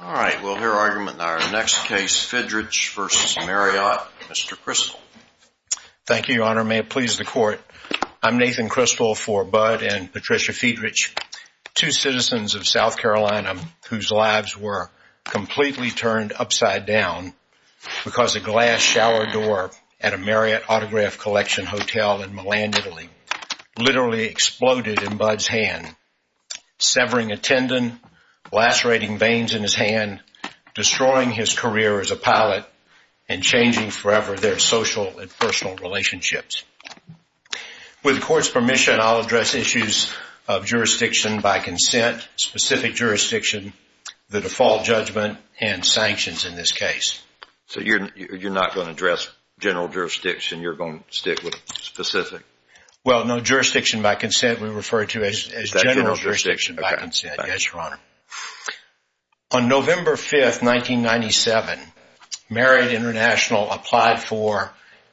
All right, we'll hear argument in our next case, Fidrych v. Marriott. Mr. Criswell. Thank you, Your Honor. May it please the Court, I'm Nathan Criswell for Budd and Patricia Fidrych, two citizens of South Carolina whose lives were completely turned upside down because a glass shower door at a Marriott Autograph Collection Hotel in Milan, Italy, literally exploded in lacerating veins in his hand, destroying his career as a pilot and changing forever their social and personal relationships. With the Court's permission, I'll address issues of jurisdiction by consent, specific jurisdiction, the default judgment, and sanctions in this case. So you're not going to address general jurisdiction, you're going to stick with specific? Well, no jurisdiction by consent. We refer to it as general jurisdiction by consent, yes, Your Honor. On November 5, 1997, Marriott International applied for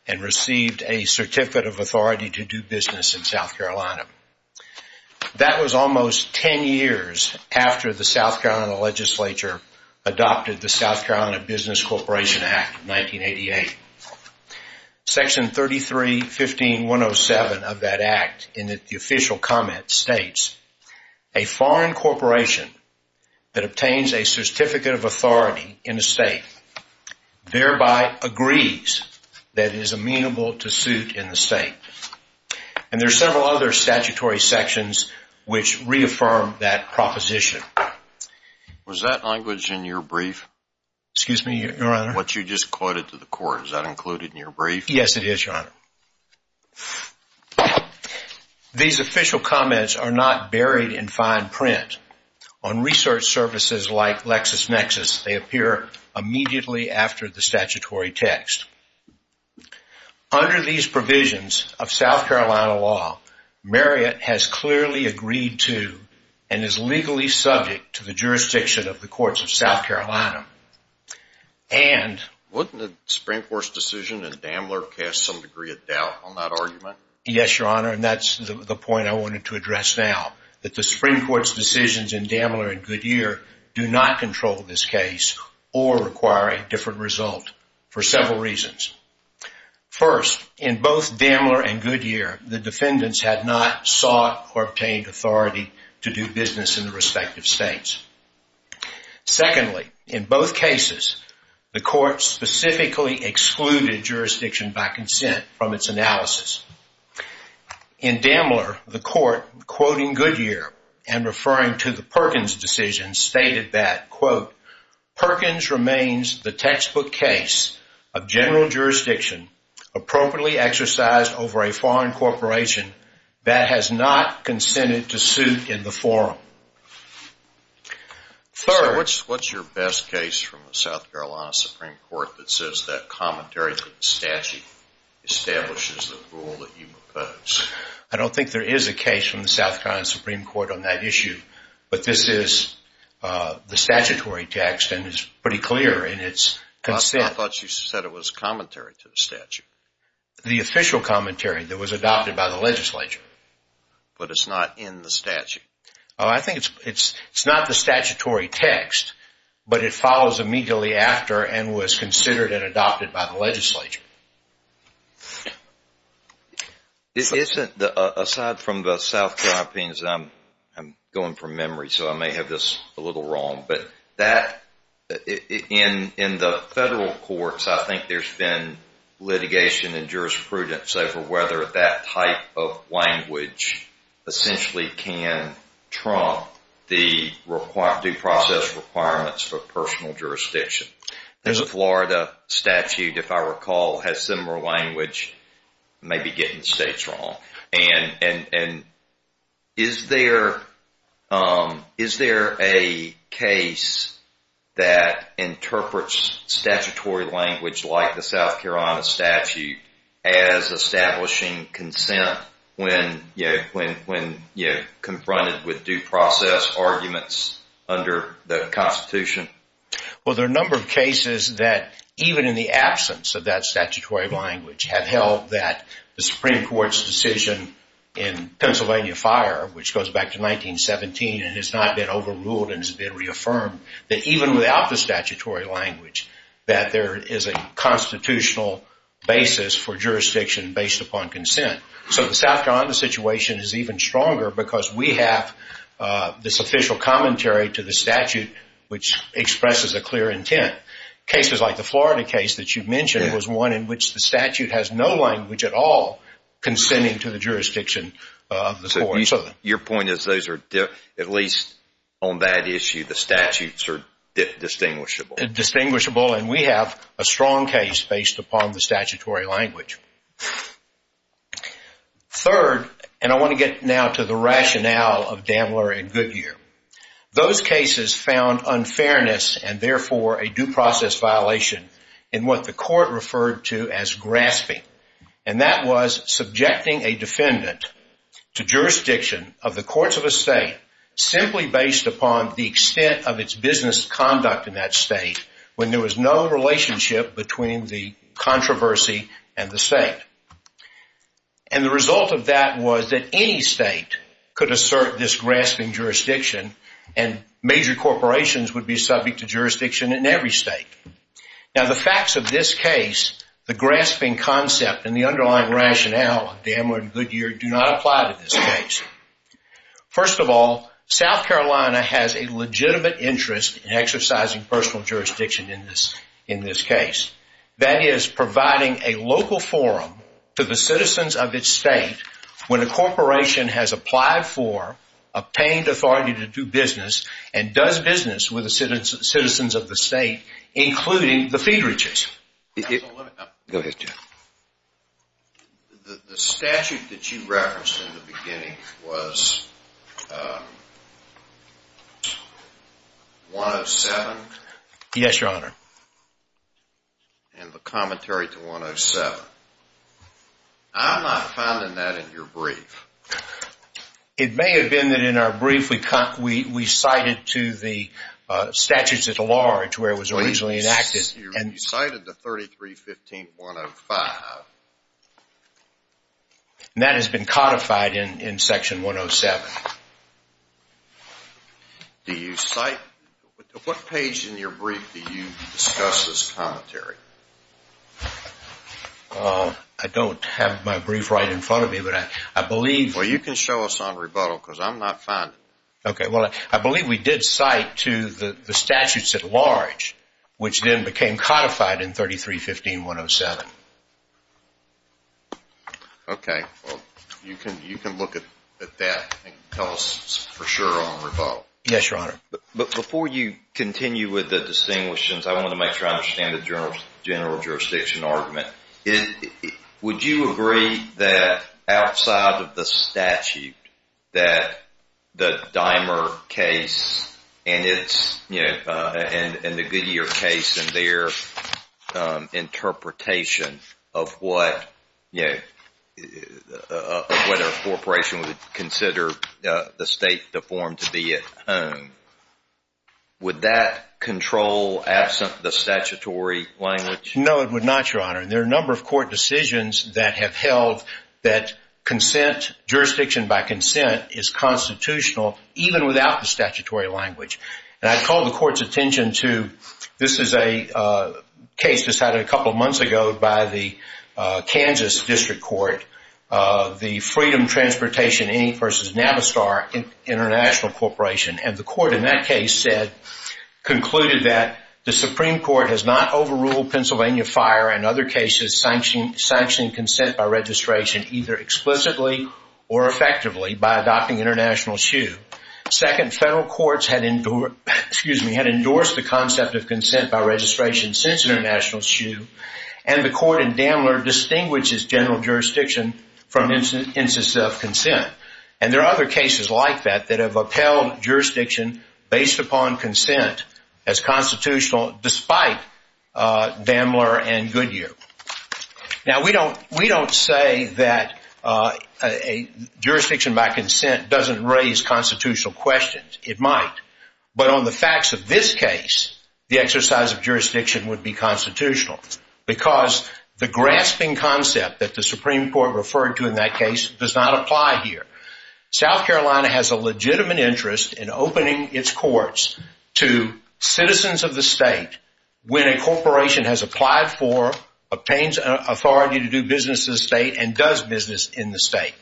and received a Certificate of Authority to do business in South Carolina. That was almost 10 years after the South Carolina Legislature adopted the South Carolina Business Corporation Act of 1988. Section 3315107 of that act, in the official comment, states, a foreign corporation that obtains a Certificate of Authority in a state thereby agrees that it is amenable to suit in the state. And there's several other statutory sections which reaffirm that proposition. Was that language in your brief? Excuse me, Your Honor? What you just quoted to the Court, is that included in your brief? Yes, it is, Your Honor. These official comments are not buried in fine print. On research services like LexisNexis, they appear immediately after the statutory text. Under these provisions of South Carolina law, Marriott has clearly agreed to and is legally subject to the jurisdiction of the Courts of South Carolina. And... Wouldn't the Supreme Court's decision in Damler cast some degree of doubt on that argument? Yes, Your Honor, and that's the point I wanted to address now, that the Supreme Court's decisions in Damler and Goodyear do not control this case or require a different result for several reasons. First, in both Damler and Goodyear, the defendants had not sought or obtained authority to do business in the respective states. Secondly, in both cases, the Court specifically excluded jurisdiction by consent from its analysis. In Damler, the Court, quoting Goodyear and referring to the Perkins decision, stated that, quote, Perkins remains the textbook case of general jurisdiction appropriately exercised over a foreign corporation that has not consented to suit in the forum. Third... What's your best case from the South Carolina Supreme Court that says that commentary to the statute establishes the rule that you propose? I don't think there is a case from the South Carolina Supreme Court on that issue, but this is the statutory text and it's pretty clear in its consent. I thought you said it was commentary to the statute. The official commentary that was adopted by the legislature. But it's not in the statute? I think it's not the statutory text, but it follows immediately after and was from memory, so I may have this a little wrong. But in the federal courts, I think there's been litigation and jurisprudence over whether that type of language essentially can trump due process requirements for personal jurisdiction. There's a Florida statute, if I recall, has similar language, maybe getting states wrong. And is there a case that interprets statutory language like the South Carolina statute as establishing consent when confronted with due process arguments under the Constitution? Well, there are a number of cases that even in the absence of that statutory language have held that the Supreme Court's decision in Pennsylvania Fire, which goes back to 1917 and has not been overruled and has been reaffirmed, that even without the statutory language, that there is a constitutional basis for jurisdiction based upon consent. So the South Carolina situation is even stronger because we have this official commentary to the statute, which expresses a clear intent. Cases like the Florida case that you mentioned was one in which the statute has no language at all consenting to the jurisdiction of the courts. Your point is those are, at least on that issue, the statutes are distinguishable. Distinguishable, and we have a strong case based upon the statutory language. Third, and I want to get now to the rationale of Dambler and Goodyear. Those cases found unfairness and therefore a due process violation in what the court referred to as grasping. And that was subjecting a defendant to jurisdiction of the courts of a state simply based upon the extent of its business conduct in that state when there was no relationship between the controversy and the state. And the result of that was that any state could assert this grasping jurisdiction and major corporations would be subject to jurisdiction in every state. Now the facts of this case, the grasping concept and the underlying rationale of Dambler and Goodyear do not apply to this case. First of all, South Carolina has a legitimate interest in exercising personal jurisdiction in this case. That is providing a local forum to the citizens of its state when a corporation has applied for, obtained authority to do business, and does business with the citizens of the state, including the feed reaches. The statute that you referenced in the commentary to 107, I'm not finding that in your brief. It may have been that in our brief we cited to the statutes at large where it was originally enacted. You cited the 3315-105. And that has been codified in section 107. Do you cite, what page in your brief do you discuss this commentary? I don't have my brief right in front of me, but I believe. Well you can show us on rebuttal because I'm not finding it. Okay, well I believe we did cite to the statutes at large which then became codified in 3315-107. Okay, well you can look at that and tell us for sure on rebuttal. Yes, your honor. But before you continue with the distinguishings, I want to make sure I understand the general jurisdiction argument. Would you agree that outside of the statute that the Dimer case and the Goodyear case and their interpretation of whether a corporation would consider the state to form to be at home, would that control absent the statutory language? No, it would not, your honor. There are a number of court decisions that have held that jurisdiction by consent is constitutional even without the statutory language. And I called the court's attention to, this is a case decided a couple of months ago by the Kansas District Court, the Freedom Transportation, Annie v. Navistar International Corporation. And the court in that case concluded that the Supreme Court has not overruled Pennsylvania Fire and other cases sanctioning consent by registration either explicitly or effectively by adopting international SHU. Second, federal courts had endorsed the concept of consent by registration since international SHU. And the court in Daimler distinguishes general jurisdiction from instances of consent. And there are other cases like that that have upheld jurisdiction based upon consent as constitutional despite Daimler and Goodyear. Now, we don't say that a jurisdiction by consent doesn't raise constitutional questions. It might. But on the facts of this case, the exercise of jurisdiction would be constitutional because the grasping concept that the Supreme Court referred to in that case does not apply here. South Carolina has a legitimate interest in opening its courts to citizens of the state when a corporation has applied for, obtains authority to do business in the state, and does business in the state.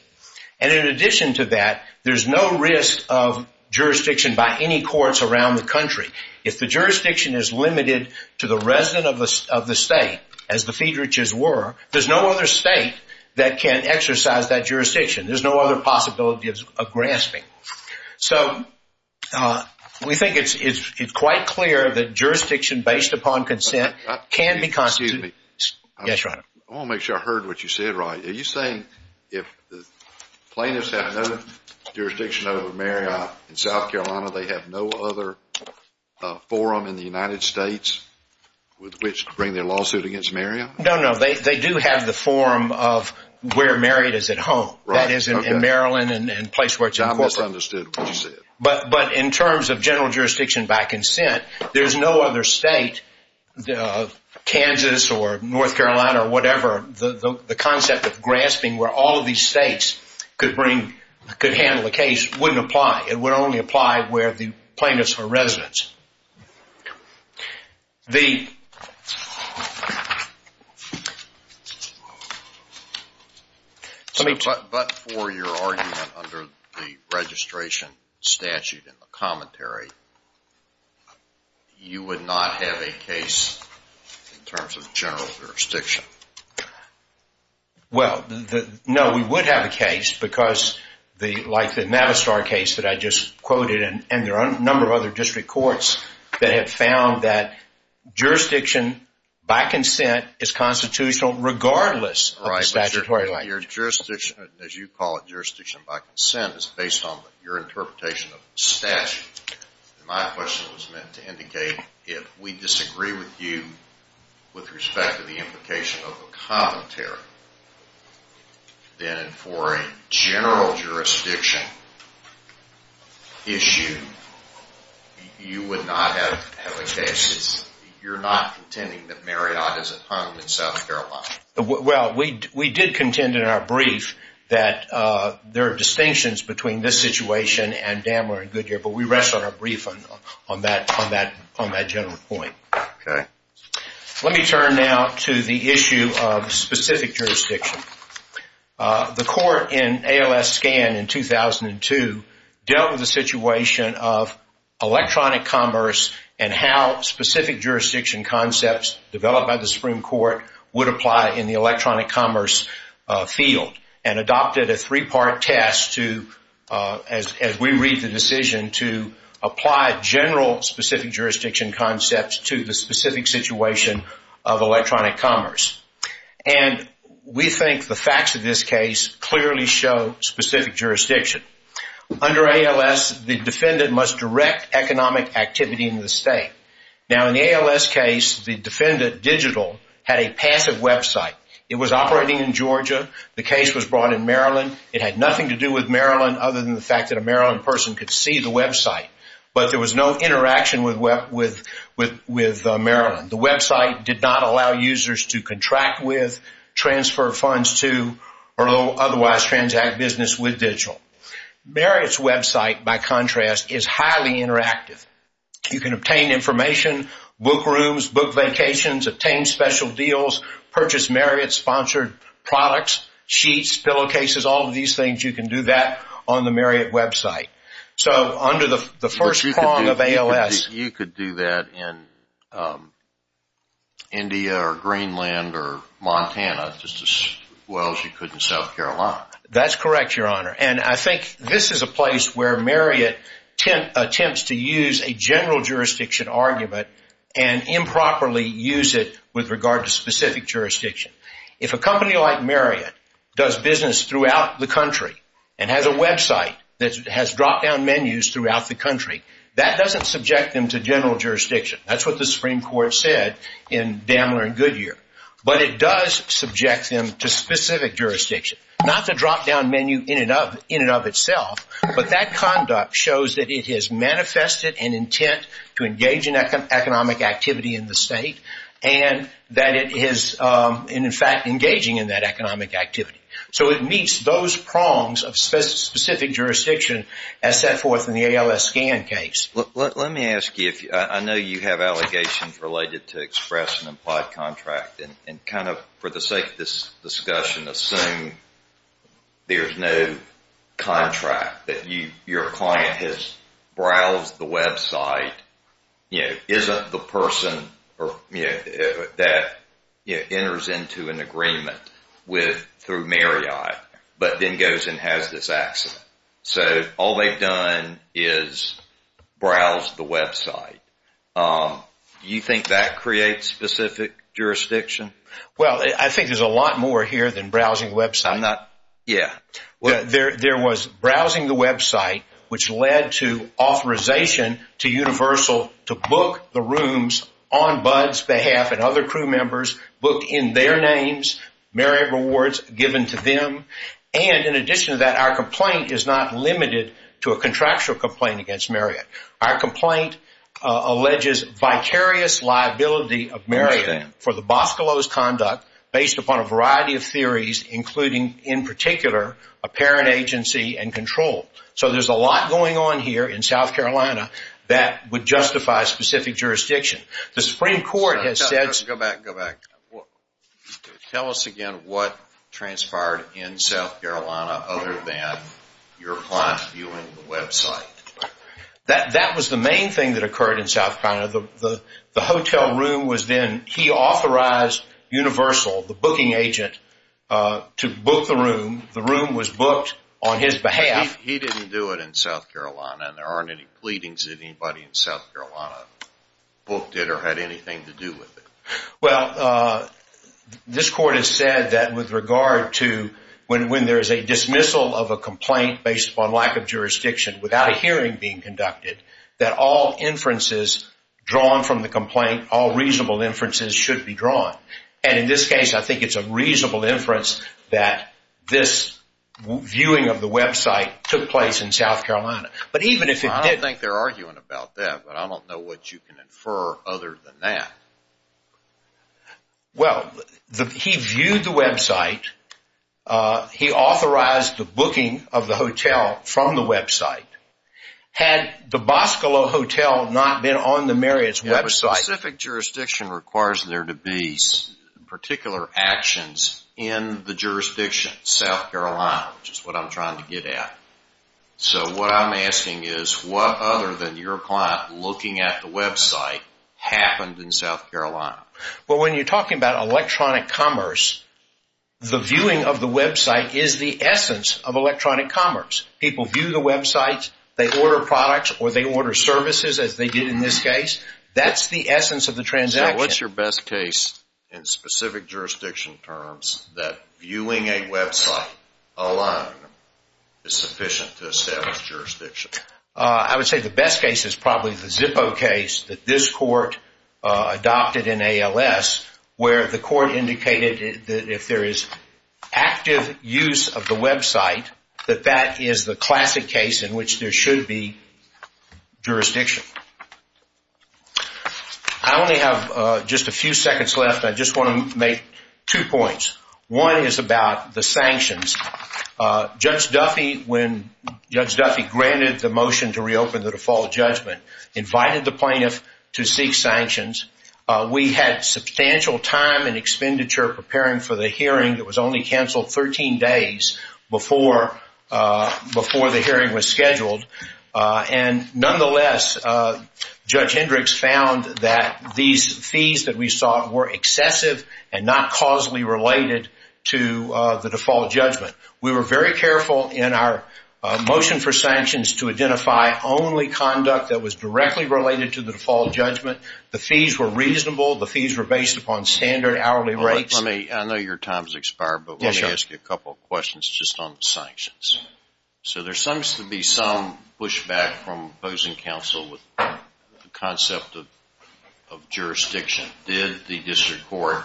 And in addition to that, there's no risk of jurisdiction by any courts around the country. If the jurisdiction is limited to the resident of the state, as the Fiedrich's were, there's no other state that can exercise that jurisdiction. There's no other possibility of grasping. So we think it's quite clear that jurisdiction based upon consent can be constitutional. Excuse me. Yes, Your Honor. I want to make sure I heard what you said, Roy. Are you saying if plaintiffs have no jurisdiction over Marriott in South Carolina, they have no other forum in the United States with which to bring their lawsuit against Marriott? No, no. They do have the forum of where Marriott is at home. That is in Maryland and place where it's important. I misunderstood what you said. But in terms of general jurisdiction by consent, there's no other state, Kansas or North Carolina or whatever, the concept of grasping where all of these states could handle the case wouldn't apply. It would only apply where the state is at home. But for your argument under the registration statute in the commentary, you would not have a case in terms of general jurisdiction? Well, no, we would have a case because like the Mavistar case that I just quoted and there are a number of other district courts that have found that jurisdiction by consent is constitutional regardless of the statutory language. As you call it, jurisdiction by consent is based on your interpretation of statute. My question was meant to indicate if we disagree with you with respect to the implication of a commentary, then for a general jurisdiction issue, you would not have a case? You're not contending that Marriott is at home in South Carolina? Well, we did contend in our brief that there are distinctions between this situation and Dambler and Goodyear, but we rest on our brief on that general point. Okay. Let me turn now to the issue of specific jurisdiction. The court in ALS Scan in 2008 and 2002 dealt with the situation of electronic commerce and how specific jurisdiction concepts developed by the Supreme Court would apply in the electronic commerce field and adopted a three-part test as we read the decision to apply general specific jurisdiction concepts to the specific situation of electronic commerce. We think the facts of this case clearly show specific jurisdiction. Under ALS, the defendant must direct economic activity in the state. Now, in the ALS case, the defendant, Digital, had a passive website. It was operating in Georgia. The case was brought in Maryland. It had nothing to do with Maryland other than the fact that a Maryland person could see the website, but there was no interaction with Maryland. The website did not allow users to contract with, transfer funds to, or otherwise transact business with Digital. Marriott's website, by contrast, is highly interactive. You can obtain information, book rooms, book vacations, obtain special deals, purchase Marriott-sponsored products, sheets, pillowcases, all of these things, you can do that on the Marriott website. So, under the first prong of ALS... You could do that in India or Greenland or Montana just as well as you could in South Carolina. That's correct, Your Honor. And I think this is a place where Marriott attempts to use a general jurisdiction argument and improperly use it with regard to specific jurisdiction. If a company like Marriott does business throughout the country and has a website that has drop-down menus throughout the country, that doesn't subject them to general jurisdiction. That's what the Supreme Court said in Dammler and Goodyear. But it does subject them to specific jurisdiction, not the drop-down menu in and of itself, but that conduct shows that it has manifested an intent to engage in economic activity in the state and that it is, in fact, engaging in that economic activity. So, it meets those prongs of specific jurisdiction as set forth in the ALS scan case. Let me ask you, I know you have allegations related to express and implied contract and kind of, for the sake of this discussion, assume there's no contract, that with through Marriott, but then goes and has this accident. So, all they've done is browse the website. Do you think that creates specific jurisdiction? Well, I think there's a lot more here than browsing the website. Yeah. There was browsing the website, which led to authorization to to book the rooms on Bud's behalf and other crew members booked in their names, Marriott rewards given to them. And in addition to that, our complaint is not limited to a contractual complaint against Marriott. Our complaint alleges vicarious liability of Marriott for the Boscolos conduct based upon a variety of theories, including, in particular, apparent agency and control. So, there's a lot going on here in South Carolina that would justify specific jurisdiction. The Supreme Court has said... Go back, go back. Tell us again what transpired in South Carolina other than your client viewing the website. That was the main thing that occurred in South Carolina. The hotel room was then, he authorized Universal, the booking agent, to book the room. The room was booked. He didn't do it in South Carolina and there aren't any pleadings of anybody in South Carolina booked it or had anything to do with it. Well, this court has said that with regard to when there is a dismissal of a complaint based upon lack of jurisdiction without a hearing being conducted that all inferences drawn from the complaint, all reasonable inferences should be drawn. And in this case, I think it's a reasonable inference that this viewing of the website took place in South Carolina. But even if it did... I don't think they're arguing about that, but I don't know what you can infer other than that. Well, he viewed the website. He authorized the booking of the hotel from the website. Had the Boscolo hotel not been on the Marriott's website... A specific jurisdiction requires there to be particular actions in the jurisdiction. So what I'm asking is what other than your client looking at the website happened in South Carolina? Well, when you're talking about electronic commerce, the viewing of the website is the essence of electronic commerce. People view the websites, they order products or they order services as they did in this case. That's the essence of the transaction. So what's your jurisdiction? I would say the best case is probably the Zippo case that this court adopted in ALS, where the court indicated that if there is active use of the website, that that is the classic case in which there should be jurisdiction. I only have just a few seconds left. I just want to make two points. One is about the sanctions. Judge Duffy, when Judge Duffy granted the motion to reopen the default judgment, invited the plaintiff to seek sanctions. We had substantial time and expenditure preparing for the hearing that was only canceled 13 days before the hearing was scheduled. And nonetheless, Judge Hendricks found that these fees that we saw were excessive and not causally related to the default judgment. We were very careful in our motion for sanctions to identify only conduct that was directly related to the default judgment. The fees were reasonable. The fees were based upon standard hourly rates. I know your time has expired, but let me ask you a couple of questions just on the sanctions. So there seems to be some pushback from opposing counsel with the concept of jurisdiction. Did the district court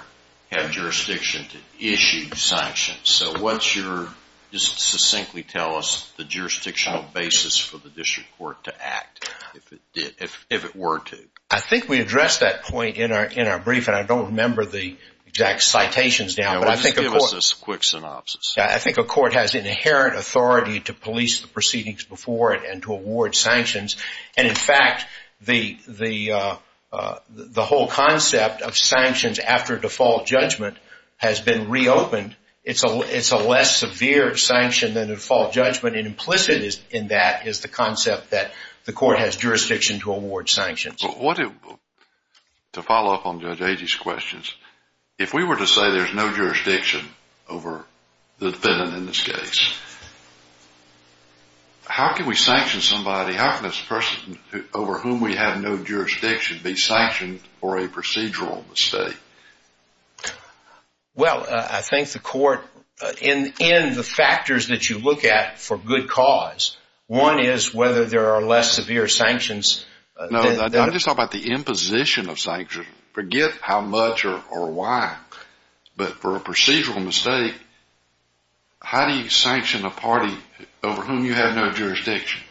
have jurisdiction to issue sanctions? So what's your, just succinctly tell us, the jurisdictional basis for the district court to act if it were to? I think we addressed that point in our brief, and I don't remember the exact citations now. Just give us a quick synopsis. I think a court has inherent authority to police proceedings before it and to award sanctions. And in fact, the whole concept of sanctions after default judgment has been reopened. It's a less severe sanction than a default judgment, and implicit in that is the concept that the court has jurisdiction to award sanctions. To follow up on Judge Agee's questions, if we were to say there's no jurisdiction over the defendant in this case, how can we sanction somebody, how can this person over whom we have no jurisdiction be sanctioned for a procedural mistake? Well, I think the court, in the factors that you look at for good cause, one is whether there are less severe sanctions. No, I'm just talking about the imposition of sanctions. Forget how much or why, but for a procedural mistake, how do you sanction a party over whom you have no jurisdiction?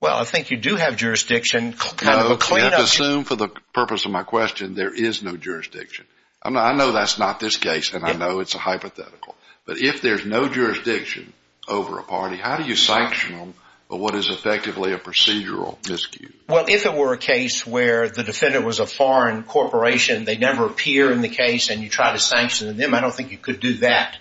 Well, I think you do have jurisdiction. No, you have to assume for the purpose of my question, there is no jurisdiction. I know that's not this case, and I know it's a hypothetical. But if there's no jurisdiction over a party, how do you sanction them for what is effectively a procedural miscuse? Well, if it were a case where the defender was a foreign corporation, they never appear in the case, and you try to sanction them, I don't think you could do that.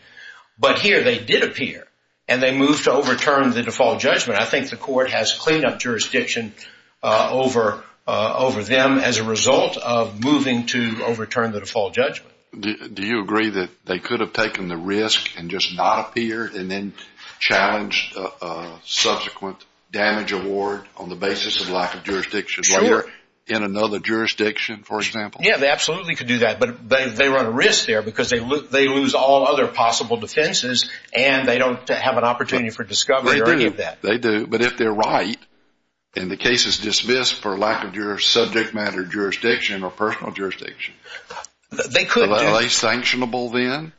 But here, they did appear, and they moved to overturn the default judgment. I think the court has clean-up jurisdiction over them as a result of moving to overturn the default judgment. Do you agree that they could have taken the risk and just not appear, and then challenged a subsequent damage award on the basis of lack of jurisdiction? Sure. Like they're in another jurisdiction, for example? Yeah, they absolutely could do that, but they run a risk there because they lose all other possible defenses, and they don't have an opportunity for discovery or any of that. They do, but if they're right, and the case is dismissed for lack of subject matter jurisdiction or personal jurisdiction, are they sanctionable then?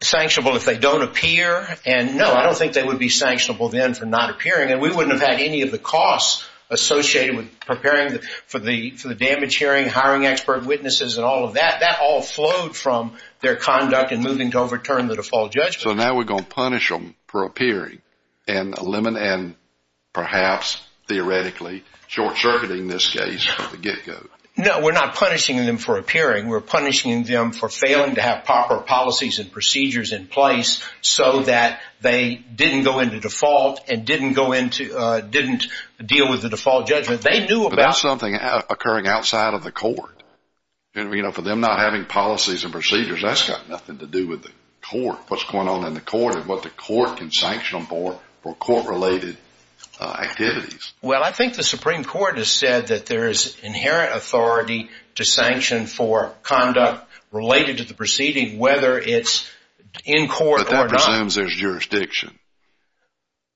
Sanctionable if they don't appear, and no, I don't think they would be sanctionable then for not appearing, and we wouldn't have had any of the costs associated with preparing for the damage hearing, hiring expert witnesses, and all of that. That all flowed from their conduct in moving to overturn the default judgment. So now we're going to punish them for appearing, and perhaps theoretically short-circuiting this case from the get-go? No, we're not punishing them for appearing. We're punishing them for failing to have proper policies and procedures in place so that they didn't go into default and didn't deal with the default judgment. They knew about... occurring outside of the court, and for them not having policies and procedures, that's got nothing to do with the court, what's going on in the court, and what the court can sanction them for for court-related activities. Well, I think the Supreme Court has said that there is inherent authority to sanction for conduct related to the proceeding, whether it's in court or not. But that presumes there's jurisdiction.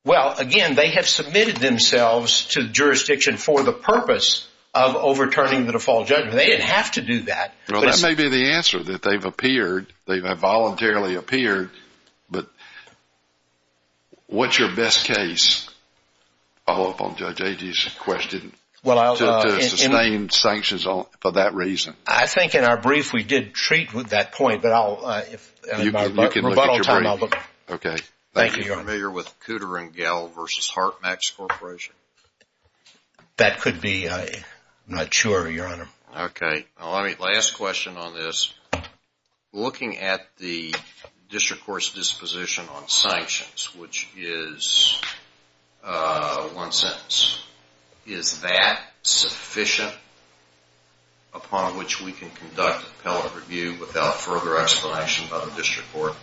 Well, again, they have submitted themselves to jurisdiction for the purpose of overturning the default judgment. They didn't have to do that. Well, that may be the answer, that they've appeared. They have voluntarily appeared. But what's your best case, to follow up on Judge Agee's question, to sustain sanctions for that reason? I think in our brief, we did treat with that point, but I'll... You can look at your brief. Okay, thank you. Are you familiar with Cooter & Gell v. Hart Max Corporation? That could be. I'm not sure, Your Honor. Okay. Last question on this. Looking at the district court's disposition on sanctions, which is one sentence, is that sufficient upon which we can conduct appellate review without further explanation by the district court?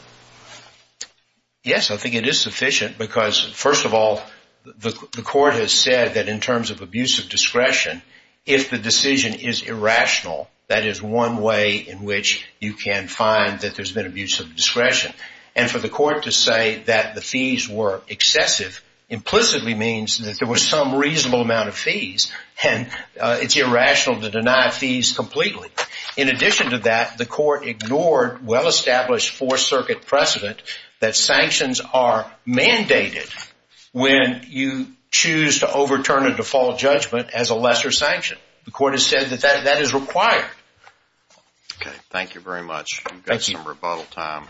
Yes, I think it is sufficient because, first of all, the court has said that in terms of abuse of discretion, if the decision is irrational, that is one way in which you can find that there's been abuse of discretion. And for the court to say that the fees were excessive, implicitly means that there was some reasonable amount of fees, and it's irrational to deny fees completely. In addition to that, the court ignored well-established Fourth Circuit precedent that sanctions are mandated when you choose to overturn a default judgment as a lesser sanction. The court has said that that is required. Okay, thank you very much. We've got some rebuttal time.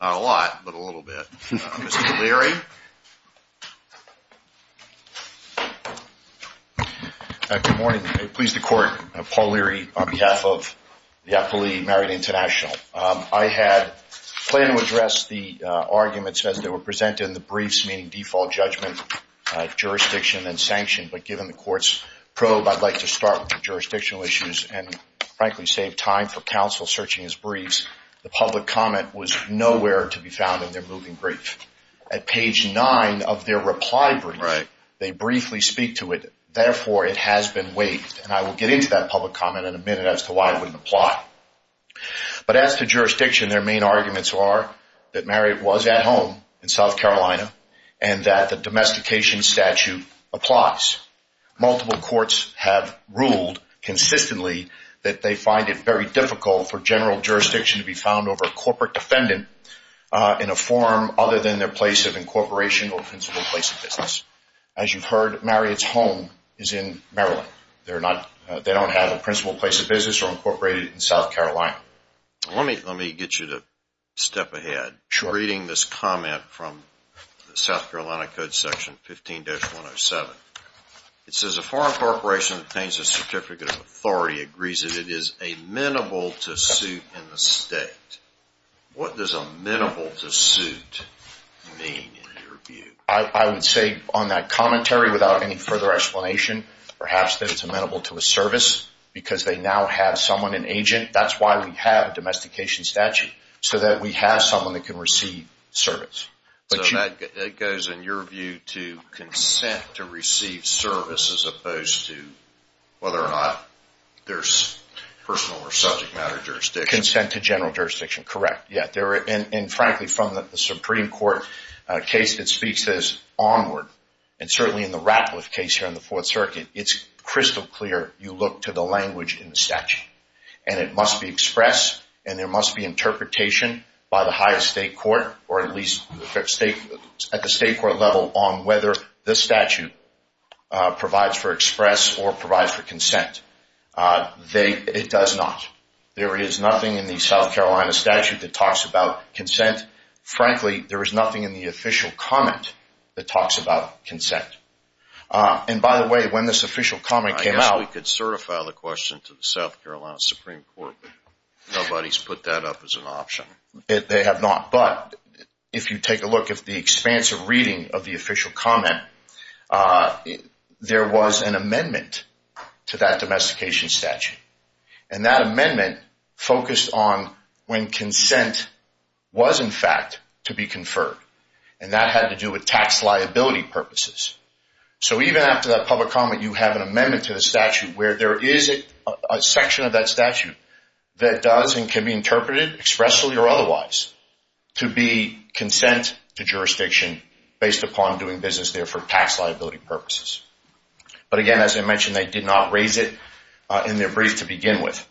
Not a lot, but a little bit. Mr. Leary? Good morning. Pleased to court. Paul Leary on behalf of the Appellee Marriott International. I had planned to address the arguments as they were presented in the briefs, meaning default judgment, jurisdiction, and sanction, but given the court's probe, I'd like to start with the jurisdictional issues and, frankly, save time for counsel searching his briefs. The public comment was nowhere to be found in their moving brief. At page 9 of their reply brief, they briefly speak to it. Therefore, it has been waived, and I will get into that public comment in a minute as to why it wouldn't apply. But as to jurisdiction, their main arguments are that Marriott was at home in South Carolina and that the domestication statute applies. Multiple courts have ruled consistently that they find it very difficult for general jurisdiction to be found over a corporate defendant in a form other than their place of incorporation or principal place of business. As you've heard, Marriott's home is in Maryland. They don't have a principal place of business or incorporated in South Carolina. Let me get you to step ahead. Sure. Reading this comment from the South Carolina Code Section 15-107, it says a foreign corporation that obtains a certificate of authority agrees that it is amenable to suit in the state. What does amenable to suit mean, in your view? I would say on that commentary, without any further explanation, perhaps that it's amenable to a service because they now have someone, an agent. That's why we have a domestication statute, so that we have someone that can receive service. It goes, in your view, to consent to receive service as opposed to whether or not there's personal or subject matter jurisdiction? Consent to general jurisdiction, correct. Frankly, from the Supreme Court case that speaks as onward, and certainly in the Ratcliffe case here in the Fourth Circuit, it's crystal clear you look to the language in the statute. It must be expressed, and there must be interpretation by the highest state court, or at least at the state court level, on whether the statute provides for express or provides for consent. Frankly, there is nothing in the official comment that talks about consent. And by the way, when this official comment came out... I guess we could certify the question to the South Carolina Supreme Court. Nobody's put that up as an option. They have not, but if you take a look at the expansive reading of the official comment, there was an amendment to that domestication statute. And that amendment focused on when consent was, in fact, to be conferred. And that had to do with tax liability purposes. So even after that public comment, you have an amendment to the statute where there is a section of that statute that does and can be interpreted expressly or otherwise to be consent to jurisdiction based upon doing business there for tax liability purposes. But again, as I mentioned, they did not raise it in their brief to begin with.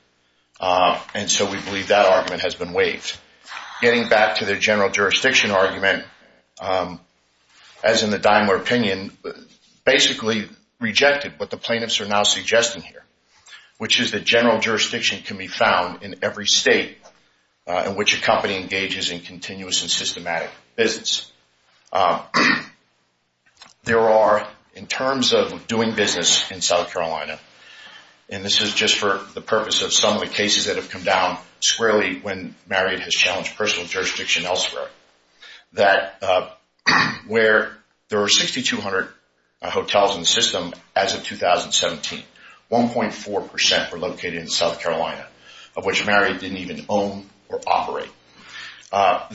And so we believe that argument has been waived. Getting back to their general jurisdiction argument, as in the Daimler opinion, basically rejected what the plaintiffs are now suggesting here, which is that general jurisdiction can be found in every state in which a company engages in continuous and systematic business. There are, in terms of doing business in South Carolina, and this is just for the purpose of some of the cases that have come down squarely when Marriott has challenged personal jurisdiction elsewhere, that where there were 6,200 hotels in the system as of 2017, 1.4% were located in South Carolina, of which Marriott didn't even own or operate.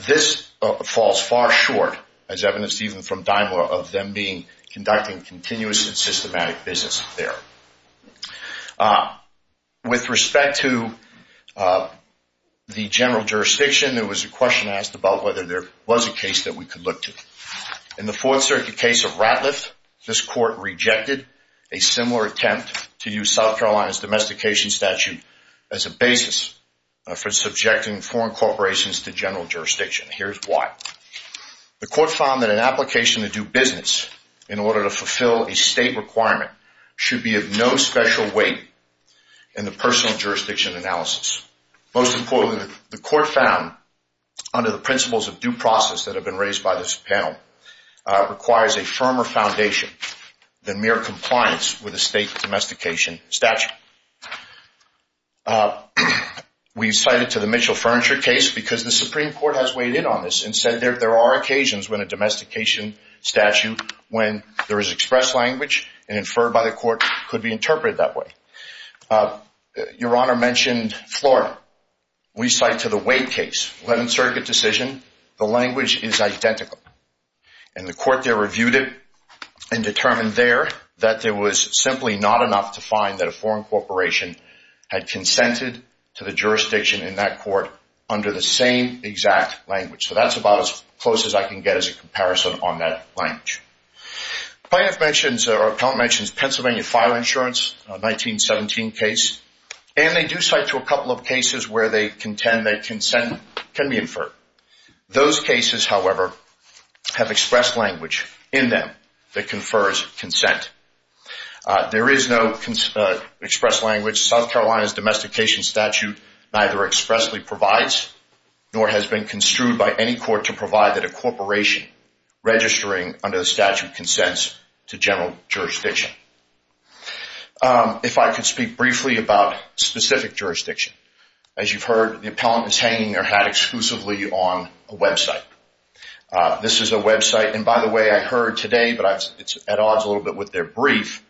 This falls far short, as evidenced even from the court. With respect to the general jurisdiction, there was a question asked about whether there was a case that we could look to. In the Fourth Circuit case of Ratliff, this court rejected a similar attempt to use South Carolina's domestication statute as a basis for subjecting foreign corporations to general jurisdiction. Here's why. The court found that an application to do business in order to fulfill a state requirement should be no special weight in the personal jurisdiction analysis. Most importantly, the court found, under the principles of due process that have been raised by this panel, requires a firmer foundation than mere compliance with a state domestication statute. We cited to the Mitchell Furniture case because the Supreme Court has weighed in on this and said there are occasions when a domestication statute, when there is expressed language and inferred by the court, could be interpreted that way. Your Honor mentioned Florida. We cite to the Wade case, Eleventh Circuit decision, the language is identical. The court there reviewed it and determined there that there was simply not enough to find that a foreign corporation had consented to the jurisdiction in that court under the same exact language. That's about as much as we can get as a comparison on that language. The plaintiff mentions Pennsylvania file insurance, a 1917 case, and they do cite to a couple of cases where they contend that consent can be inferred. Those cases, however, have expressed language in them that confers consent. There is no expressed language. South Carolina's domestication statute neither expressly provides nor has been construed by any court to provide that a corporation registering under the statute consents to general jurisdiction. If I could speak briefly about specific jurisdiction. As you've heard, the appellant is hanging their hat exclusively on a website. This is a website, and by the way, I heard today, but it's at odds a little bit with their brief,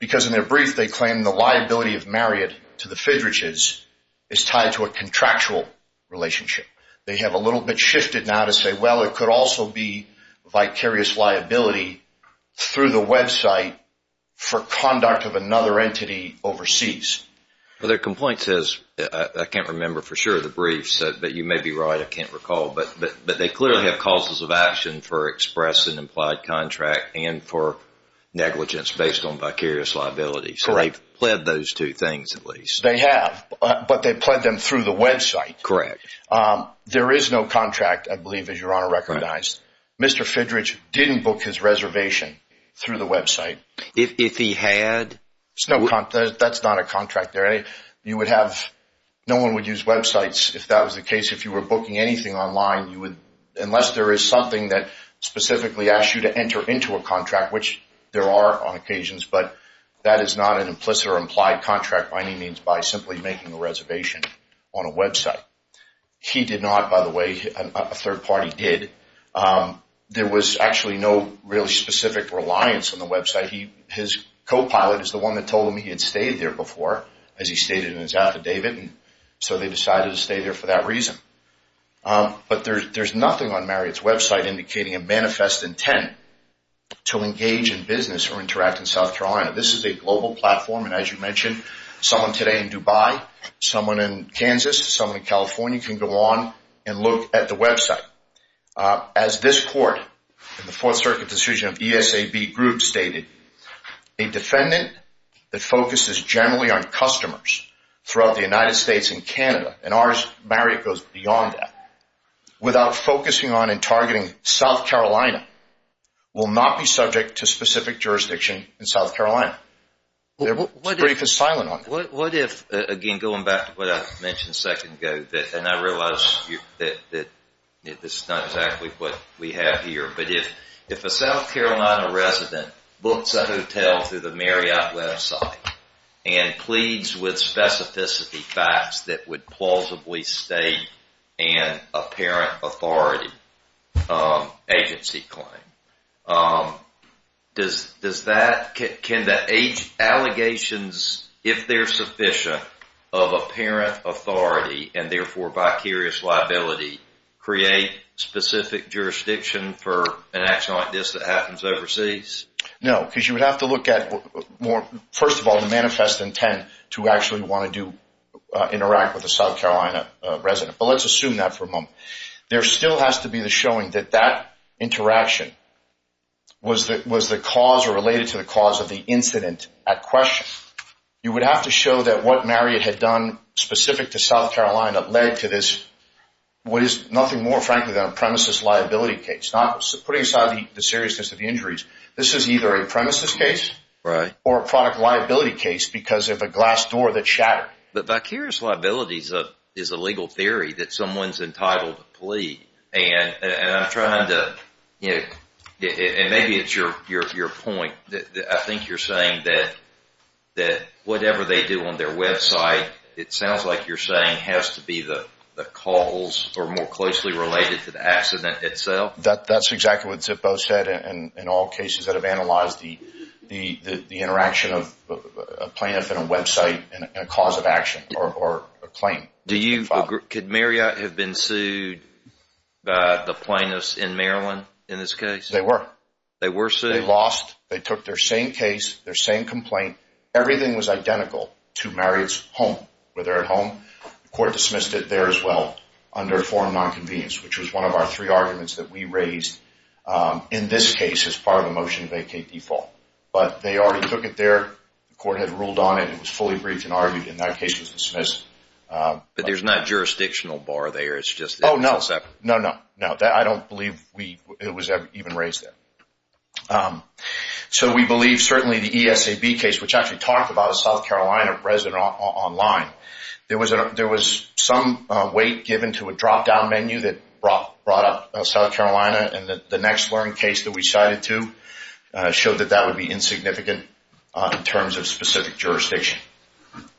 because in their brief they claim the liability of Marriott to the Fidrichs is tied to a contractual relationship. They have a little bit shifted now to say, well, it could also be vicarious liability through the website for conduct of another entity overseas. Their complaint says, I can't remember for sure the brief, but you may be right, I can't recall, but they clearly have causes of action for expressing implied contract and for negligence based on vicarious liability, so they've pled those two things at least. They have, but they've pled them through the website. There is no contract, I believe, as Your Honor recognized. Mr. Fidrich didn't book his reservation through the website. That's not a contract. No one would use websites if that was the case. If you were booking anything online, unless there is something that specifically asks you to enter into a contract, which there are on occasions, but that is not an implicit or implied contract by any means by simply making a reservation on a website. He did not, by the way, a third party did. There was actually no really specific reliance on the website. His co-pilot is the one that told him he had stayed there before, as he stated in his affidavit, so they decided to stay there for that reason. But there's nothing on Marriott's website indicating a manifest intent to engage in business or interact in South Carolina. This is a global platform, and as you mentioned, someone today in Dubai, someone in Kansas, someone in California can go on and look at the website. As this court in the Fourth Circuit decision of ESAB Group stated, a defendant that focuses generally on customers throughout the United States and Canada, and ours, Marriott, goes beyond that, without focusing on and targeting South Carolina, will not be subject to specific jurisdiction in South Carolina. The brief is silent on that. What if, again, going back to what I mentioned a second ago, and I realize this is not exactly what we have here, but if a South Carolina resident books a hotel through the Marriott website and pleads with specificity facts that would plausibly state an apparent authority agency claim, can the allegations, if they're sufficient, of apparent authority, and therefore vicarious liability, create specific jurisdiction for an action like this that happens overseas? No, because you would have to look at, first of all, the manifest intent to actually want to interact with a South Carolina resident, but let's assume that for a moment. There still has to be the showing that that interaction was the cause or related to the cause of the incident at question. You would have to show that what Marriott had done specific to South Carolina led to this, what is nothing more than a premises liability case, not putting aside the seriousness of the injuries. This is either a premises case or a product liability case because of a glass door that shattered. But vicarious liability is a legal theory that someone's entitled to plead, and I'm trying to, you know, and maybe it's your point. I think you're saying that whatever they do on their website, it sounds like you're saying has to be the calls or more closely related to the accident itself. That's exactly what Zippo said in all cases that have analyzed the interaction of a plaintiff and a website and a cause of action or a claim. Could Marriott have been sued by the plaintiffs in Maryland in this case? They were. They were sued? They lost. They took their same case, their same complaint. Everything was identical to Marriott's home, where they're at home. The court dismissed it there as well under a form of nonconvenience, which was one of our three arguments that we raised in this case as part of a motion to vacate default. But they already took it there. The court had ruled on it. It was fully briefed and argued. In that case, it was dismissed. But there's not jurisdictional bar there. It's just... Oh, no. No, no, no. I don't believe it was even raised there. Okay. So we believe certainly the ESAB case, which actually talked about a South Carolina resident online, there was some weight given to a drop-down menu that brought up South Carolina, and the next learned case that we cited to showed that that would be insignificant in terms of specific jurisdiction.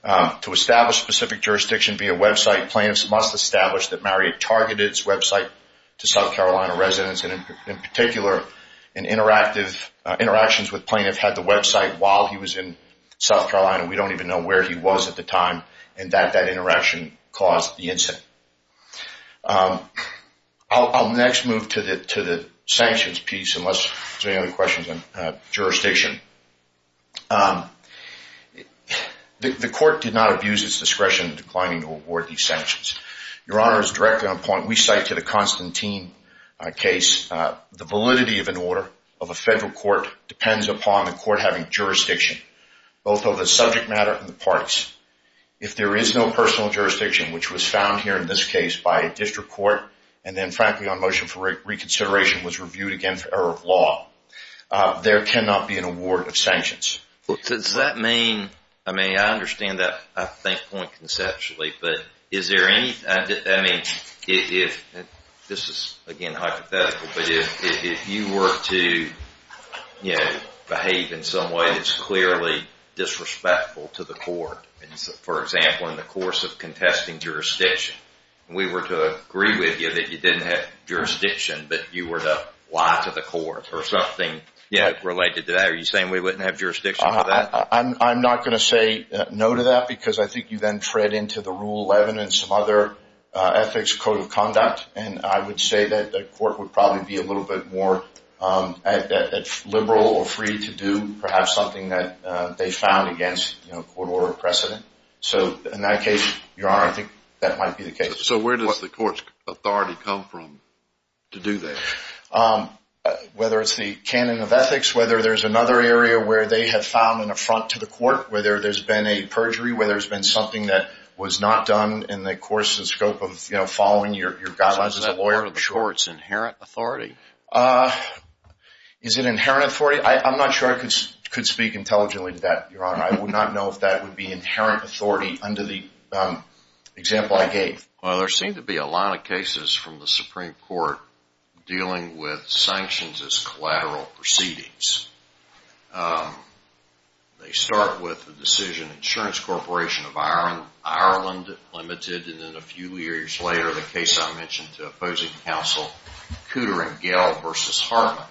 To establish specific jurisdiction via website, plaintiffs must establish that Marriott targeted its website to South Carolina residents, and in particular, interactions with plaintiffs had the website while he was in South Carolina. We don't even know where he was at the time, and that interaction caused the incident. I'll next move to the sanctions piece, unless there's any other questions on jurisdiction. The court did not abuse its discretion in declining to award these sanctions. Your Honor, it's directly on point. We cite to the Constantine case, the validity of an order of a federal court depends upon the court having jurisdiction, both of the subject matter and the parts. If there is no personal jurisdiction, which was found here in this case by a district court, and then frankly on motion for reconsideration was reviewed again for error of law, there cannot be an award of sanctions. Does that mean... I mean, I understand that, I think, point conceptually, but is there any... I mean, if... This is, again, hypothetical, but if you were to behave in some way that's clearly disrespectful to the court, for example, in the course of contesting jurisdiction, and we were to agree with you that you didn't have jurisdiction, but you were to lie to the court or something related to that, are you saying we then tread into the Rule 11 and some other ethics code of conduct? And I would say that the court would probably be a little bit more liberal or free to do perhaps something that they found against court order precedent. So in that case, Your Honor, I think that might be the case. So where does the court's authority come from to do that? Whether it's the canon of ethics, whether there's another area where they have found an affront to the court, whether there's been a perjury, whether there's been something that was not done in the course of the scope of following your guidelines as a lawyer... Is that part of the court's inherent authority? Is it inherent authority? I'm not sure I could speak intelligently to that, Your Honor. I would not know if that would be inherent authority under the example I gave. Well, there seem to be a lot of cases from the Supreme Court dealing with sanctions as collateral proceedings. They start with the decision Insurance Corporation of Ireland Limited, and then a few years later, the case I mentioned to opposing counsel Cooter and Gell v. Hartman.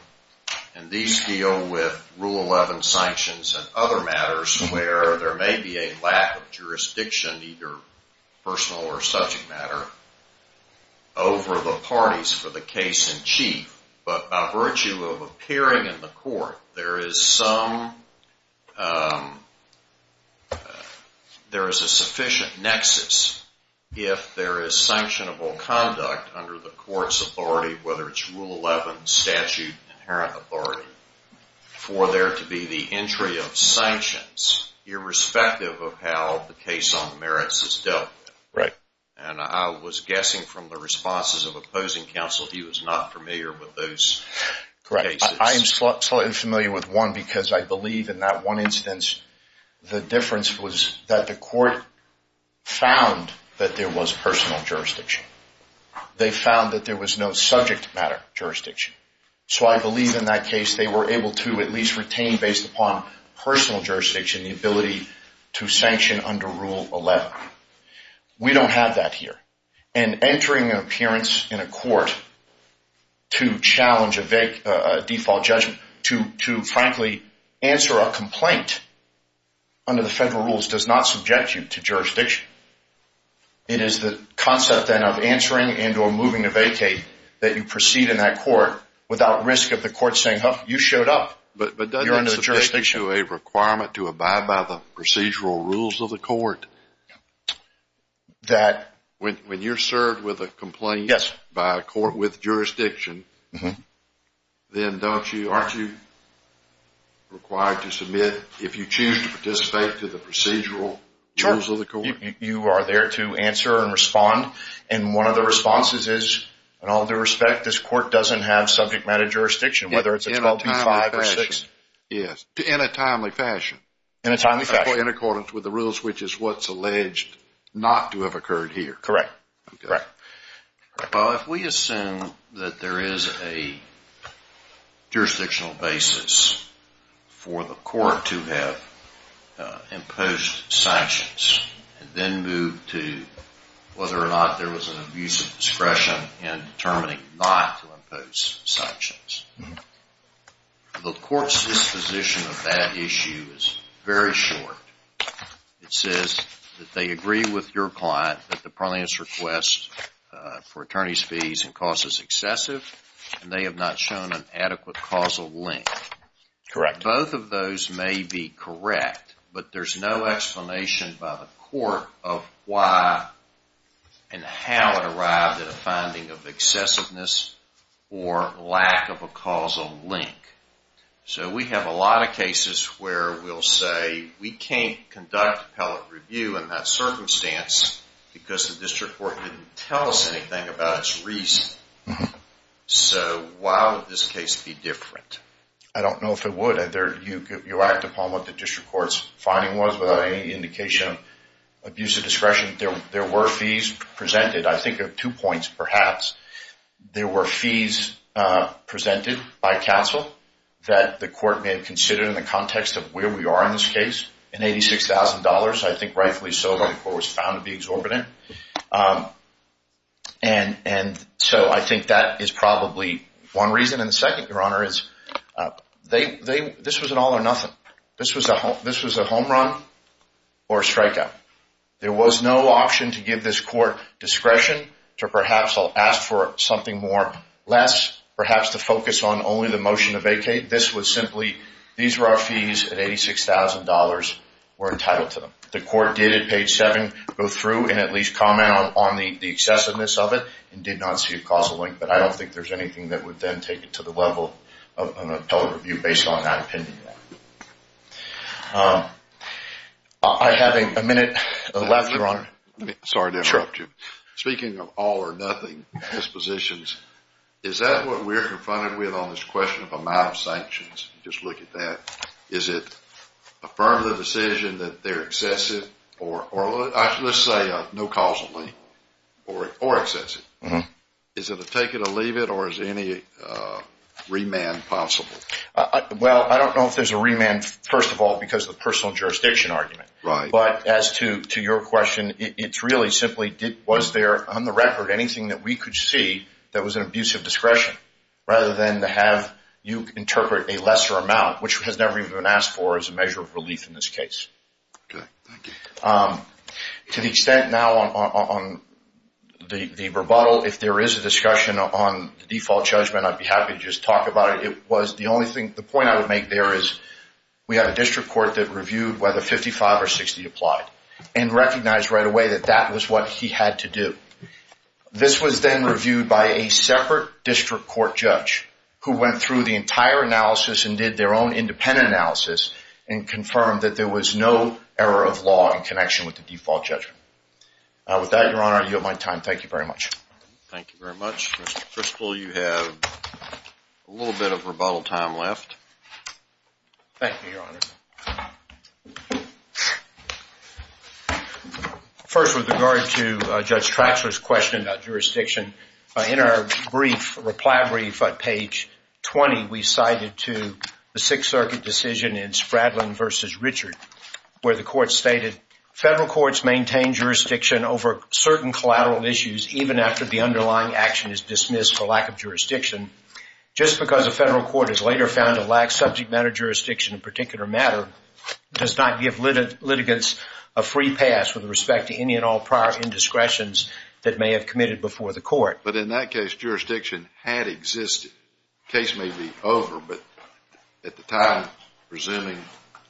And these deal with Rule 11 sanctions and other matters where there may be a lack of jurisdiction, either personal or subject matter, over the parties for the case in chief. But by virtue of appearing in the court, there is a sufficient nexus if there is sanctionable conduct under the court's authority, whether it's Rule 11 statute inherent authority, for there to be the entry of sanctions irrespective of how the case on the merits is dealt with. And I was guessing from the responses of opposing counsel he was not familiar with those cases. Correct. I am slightly familiar with one because I believe in that one instance, the difference was that the court found that there was personal jurisdiction. They found that there was no subject matter jurisdiction. So I believe in that case, they were able to at least retain, based upon personal jurisdiction, the ability to sanction under Rule 11. We don't have that here. And entering an appearance in a court to challenge a default judgment, to frankly answer a complaint under the federal rules, does not subject you to jurisdiction. It is the concept then of answering and or moving to vacate that you proceed in that court without risk of the court saying, oh, you showed up. But doesn't that subject you to a requirement to abide by the procedural rules of the court that when you're served with a complaint by a court with jurisdiction, then aren't you required to submit if you choose to participate to the procedural rules of the court? You are there to answer and respond. And one of the responses is, in all due respect, this court doesn't have subject matter jurisdiction, whether it's a 12B5 or 6. Yes, in a timely fashion. In a timely fashion. In accordance with the rules, which is what's alleged not to have occurred here. Correct. Correct. Well, if we assume that there is a jurisdictional basis for the court to have imposed sanctions and then move to whether or not there was an abuse of sanctions, the court's disposition of that issue is very short. It says that they agree with your client that the parliament's request for attorney's fees and costs is excessive and they have not shown an adequate causal link. Correct. Both of those may be correct, but there's no explanation by the court of why and how it or lack of a causal link. So we have a lot of cases where we'll say we can't conduct appellate review in that circumstance because the district court didn't tell us anything about its reason. So why would this case be different? I don't know if it would. You act upon what the district court's finding was without any indication of abuse of discretion. There were fees presented. I think of two points, perhaps. There were fees presented by counsel that the court may have considered in the context of where we are in this case in $86,000. I think rightfully so, but the court was found to be exorbitant. And so I think that is probably one reason. And the second, your honor, is they, this was an all or nothing. This was a home run or strikeout. There was no option to give this court discretion to perhaps ask for something more, less, perhaps to focus on only the motion to vacate. This was simply, these were our fees at $86,000 were entitled to them. The court did at page seven go through and at least comment on the excessiveness of it and did not see a causal link, but I don't think there's anything that would then take it to the total review based on that opinion. I have a minute left, your honor. Sorry to interrupt you. Speaking of all or nothing dispositions, is that what we're confronted with on this question of amount of sanctions? Just look at that. Is it affirm the decision that they're excessive or let's say no causally or excessive. Is it a take it or leave it or is any remand possible? Well, I don't know if there's a remand, first of all, because of the personal jurisdiction argument. But as to your question, it's really simply was there on the record anything that we could see that was an abuse of discretion rather than to have you interpret a lesser amount, which has never even been asked for as a measure of relief in this case. Okay. Thank you. To the extent now on the rebuttal, if there is a discussion on the default judgment, I'd be happy to just talk about it. The point I would make there is we have a district court that reviewed whether 55 or 60 applied and recognized right away that that was what he had to do. This was then reviewed by a separate district court judge who went through the entire analysis and did their own independent analysis and confirmed that there was no error of law in connection with the default judgment. With that, Your Honor, I yield my time. Thank you very much. Thank you very much. Mr. Crystal, you have a little bit of rebuttal time left. Thank you, Your Honor. First, with regard to Judge Trachler's question about jurisdiction, in our brief reply brief at the Sixth Circuit decision in Spradlin v. Richard, where the court stated, federal courts maintain jurisdiction over certain collateral issues even after the underlying action is dismissed for lack of jurisdiction. Just because a federal court is later found to lack subject matter jurisdiction in a particular matter does not give litigants a free pass with respect to any and all prior indiscretions that may have committed before the court. But in that case, jurisdiction had existed. The case may be over, but at the time, presuming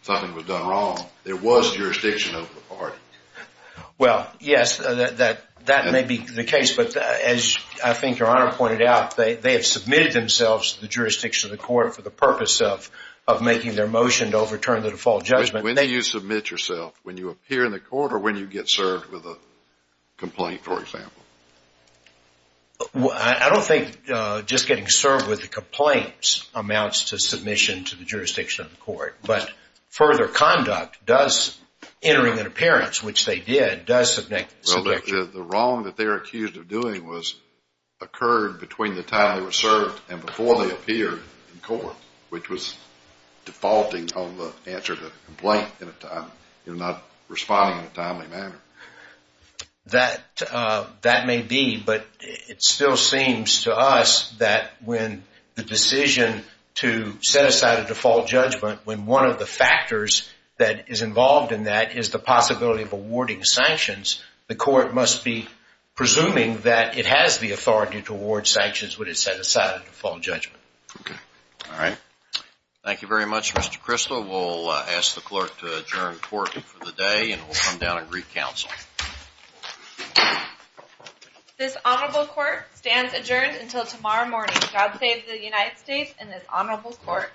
something was done wrong, there was jurisdiction over the party. Well, yes, that may be the case. But as I think Your Honor pointed out, they have submitted themselves to the jurisdiction of the court for the purpose of making their motion to overturn the default judgment. When do you submit yourself? When you appear in the court or when you get served with a complaint, for example. I don't think just getting served with a complaint amounts to submission to the jurisdiction of the court. But further conduct does, entering an appearance, which they did, does submit. Well, the wrong that they were accused of doing was occurred between the time they were served and before they appeared in court, which was defaulting on the answer to the complaint, not responding in a timely manner. That may be, but it still seems to us that when the decision to set aside a default judgment, when one of the factors that is involved in that is the possibility of awarding sanctions, the court must be presuming that it has the authority to award sanctions when it's set aside a default judgment. Okay. All right. Thank you very much, Mr. Crystal. We'll ask the clerk to adjourn court for the day and we'll come down and recounsel. This honorable court stands adjourned until tomorrow morning. God save the United States and this honorable court.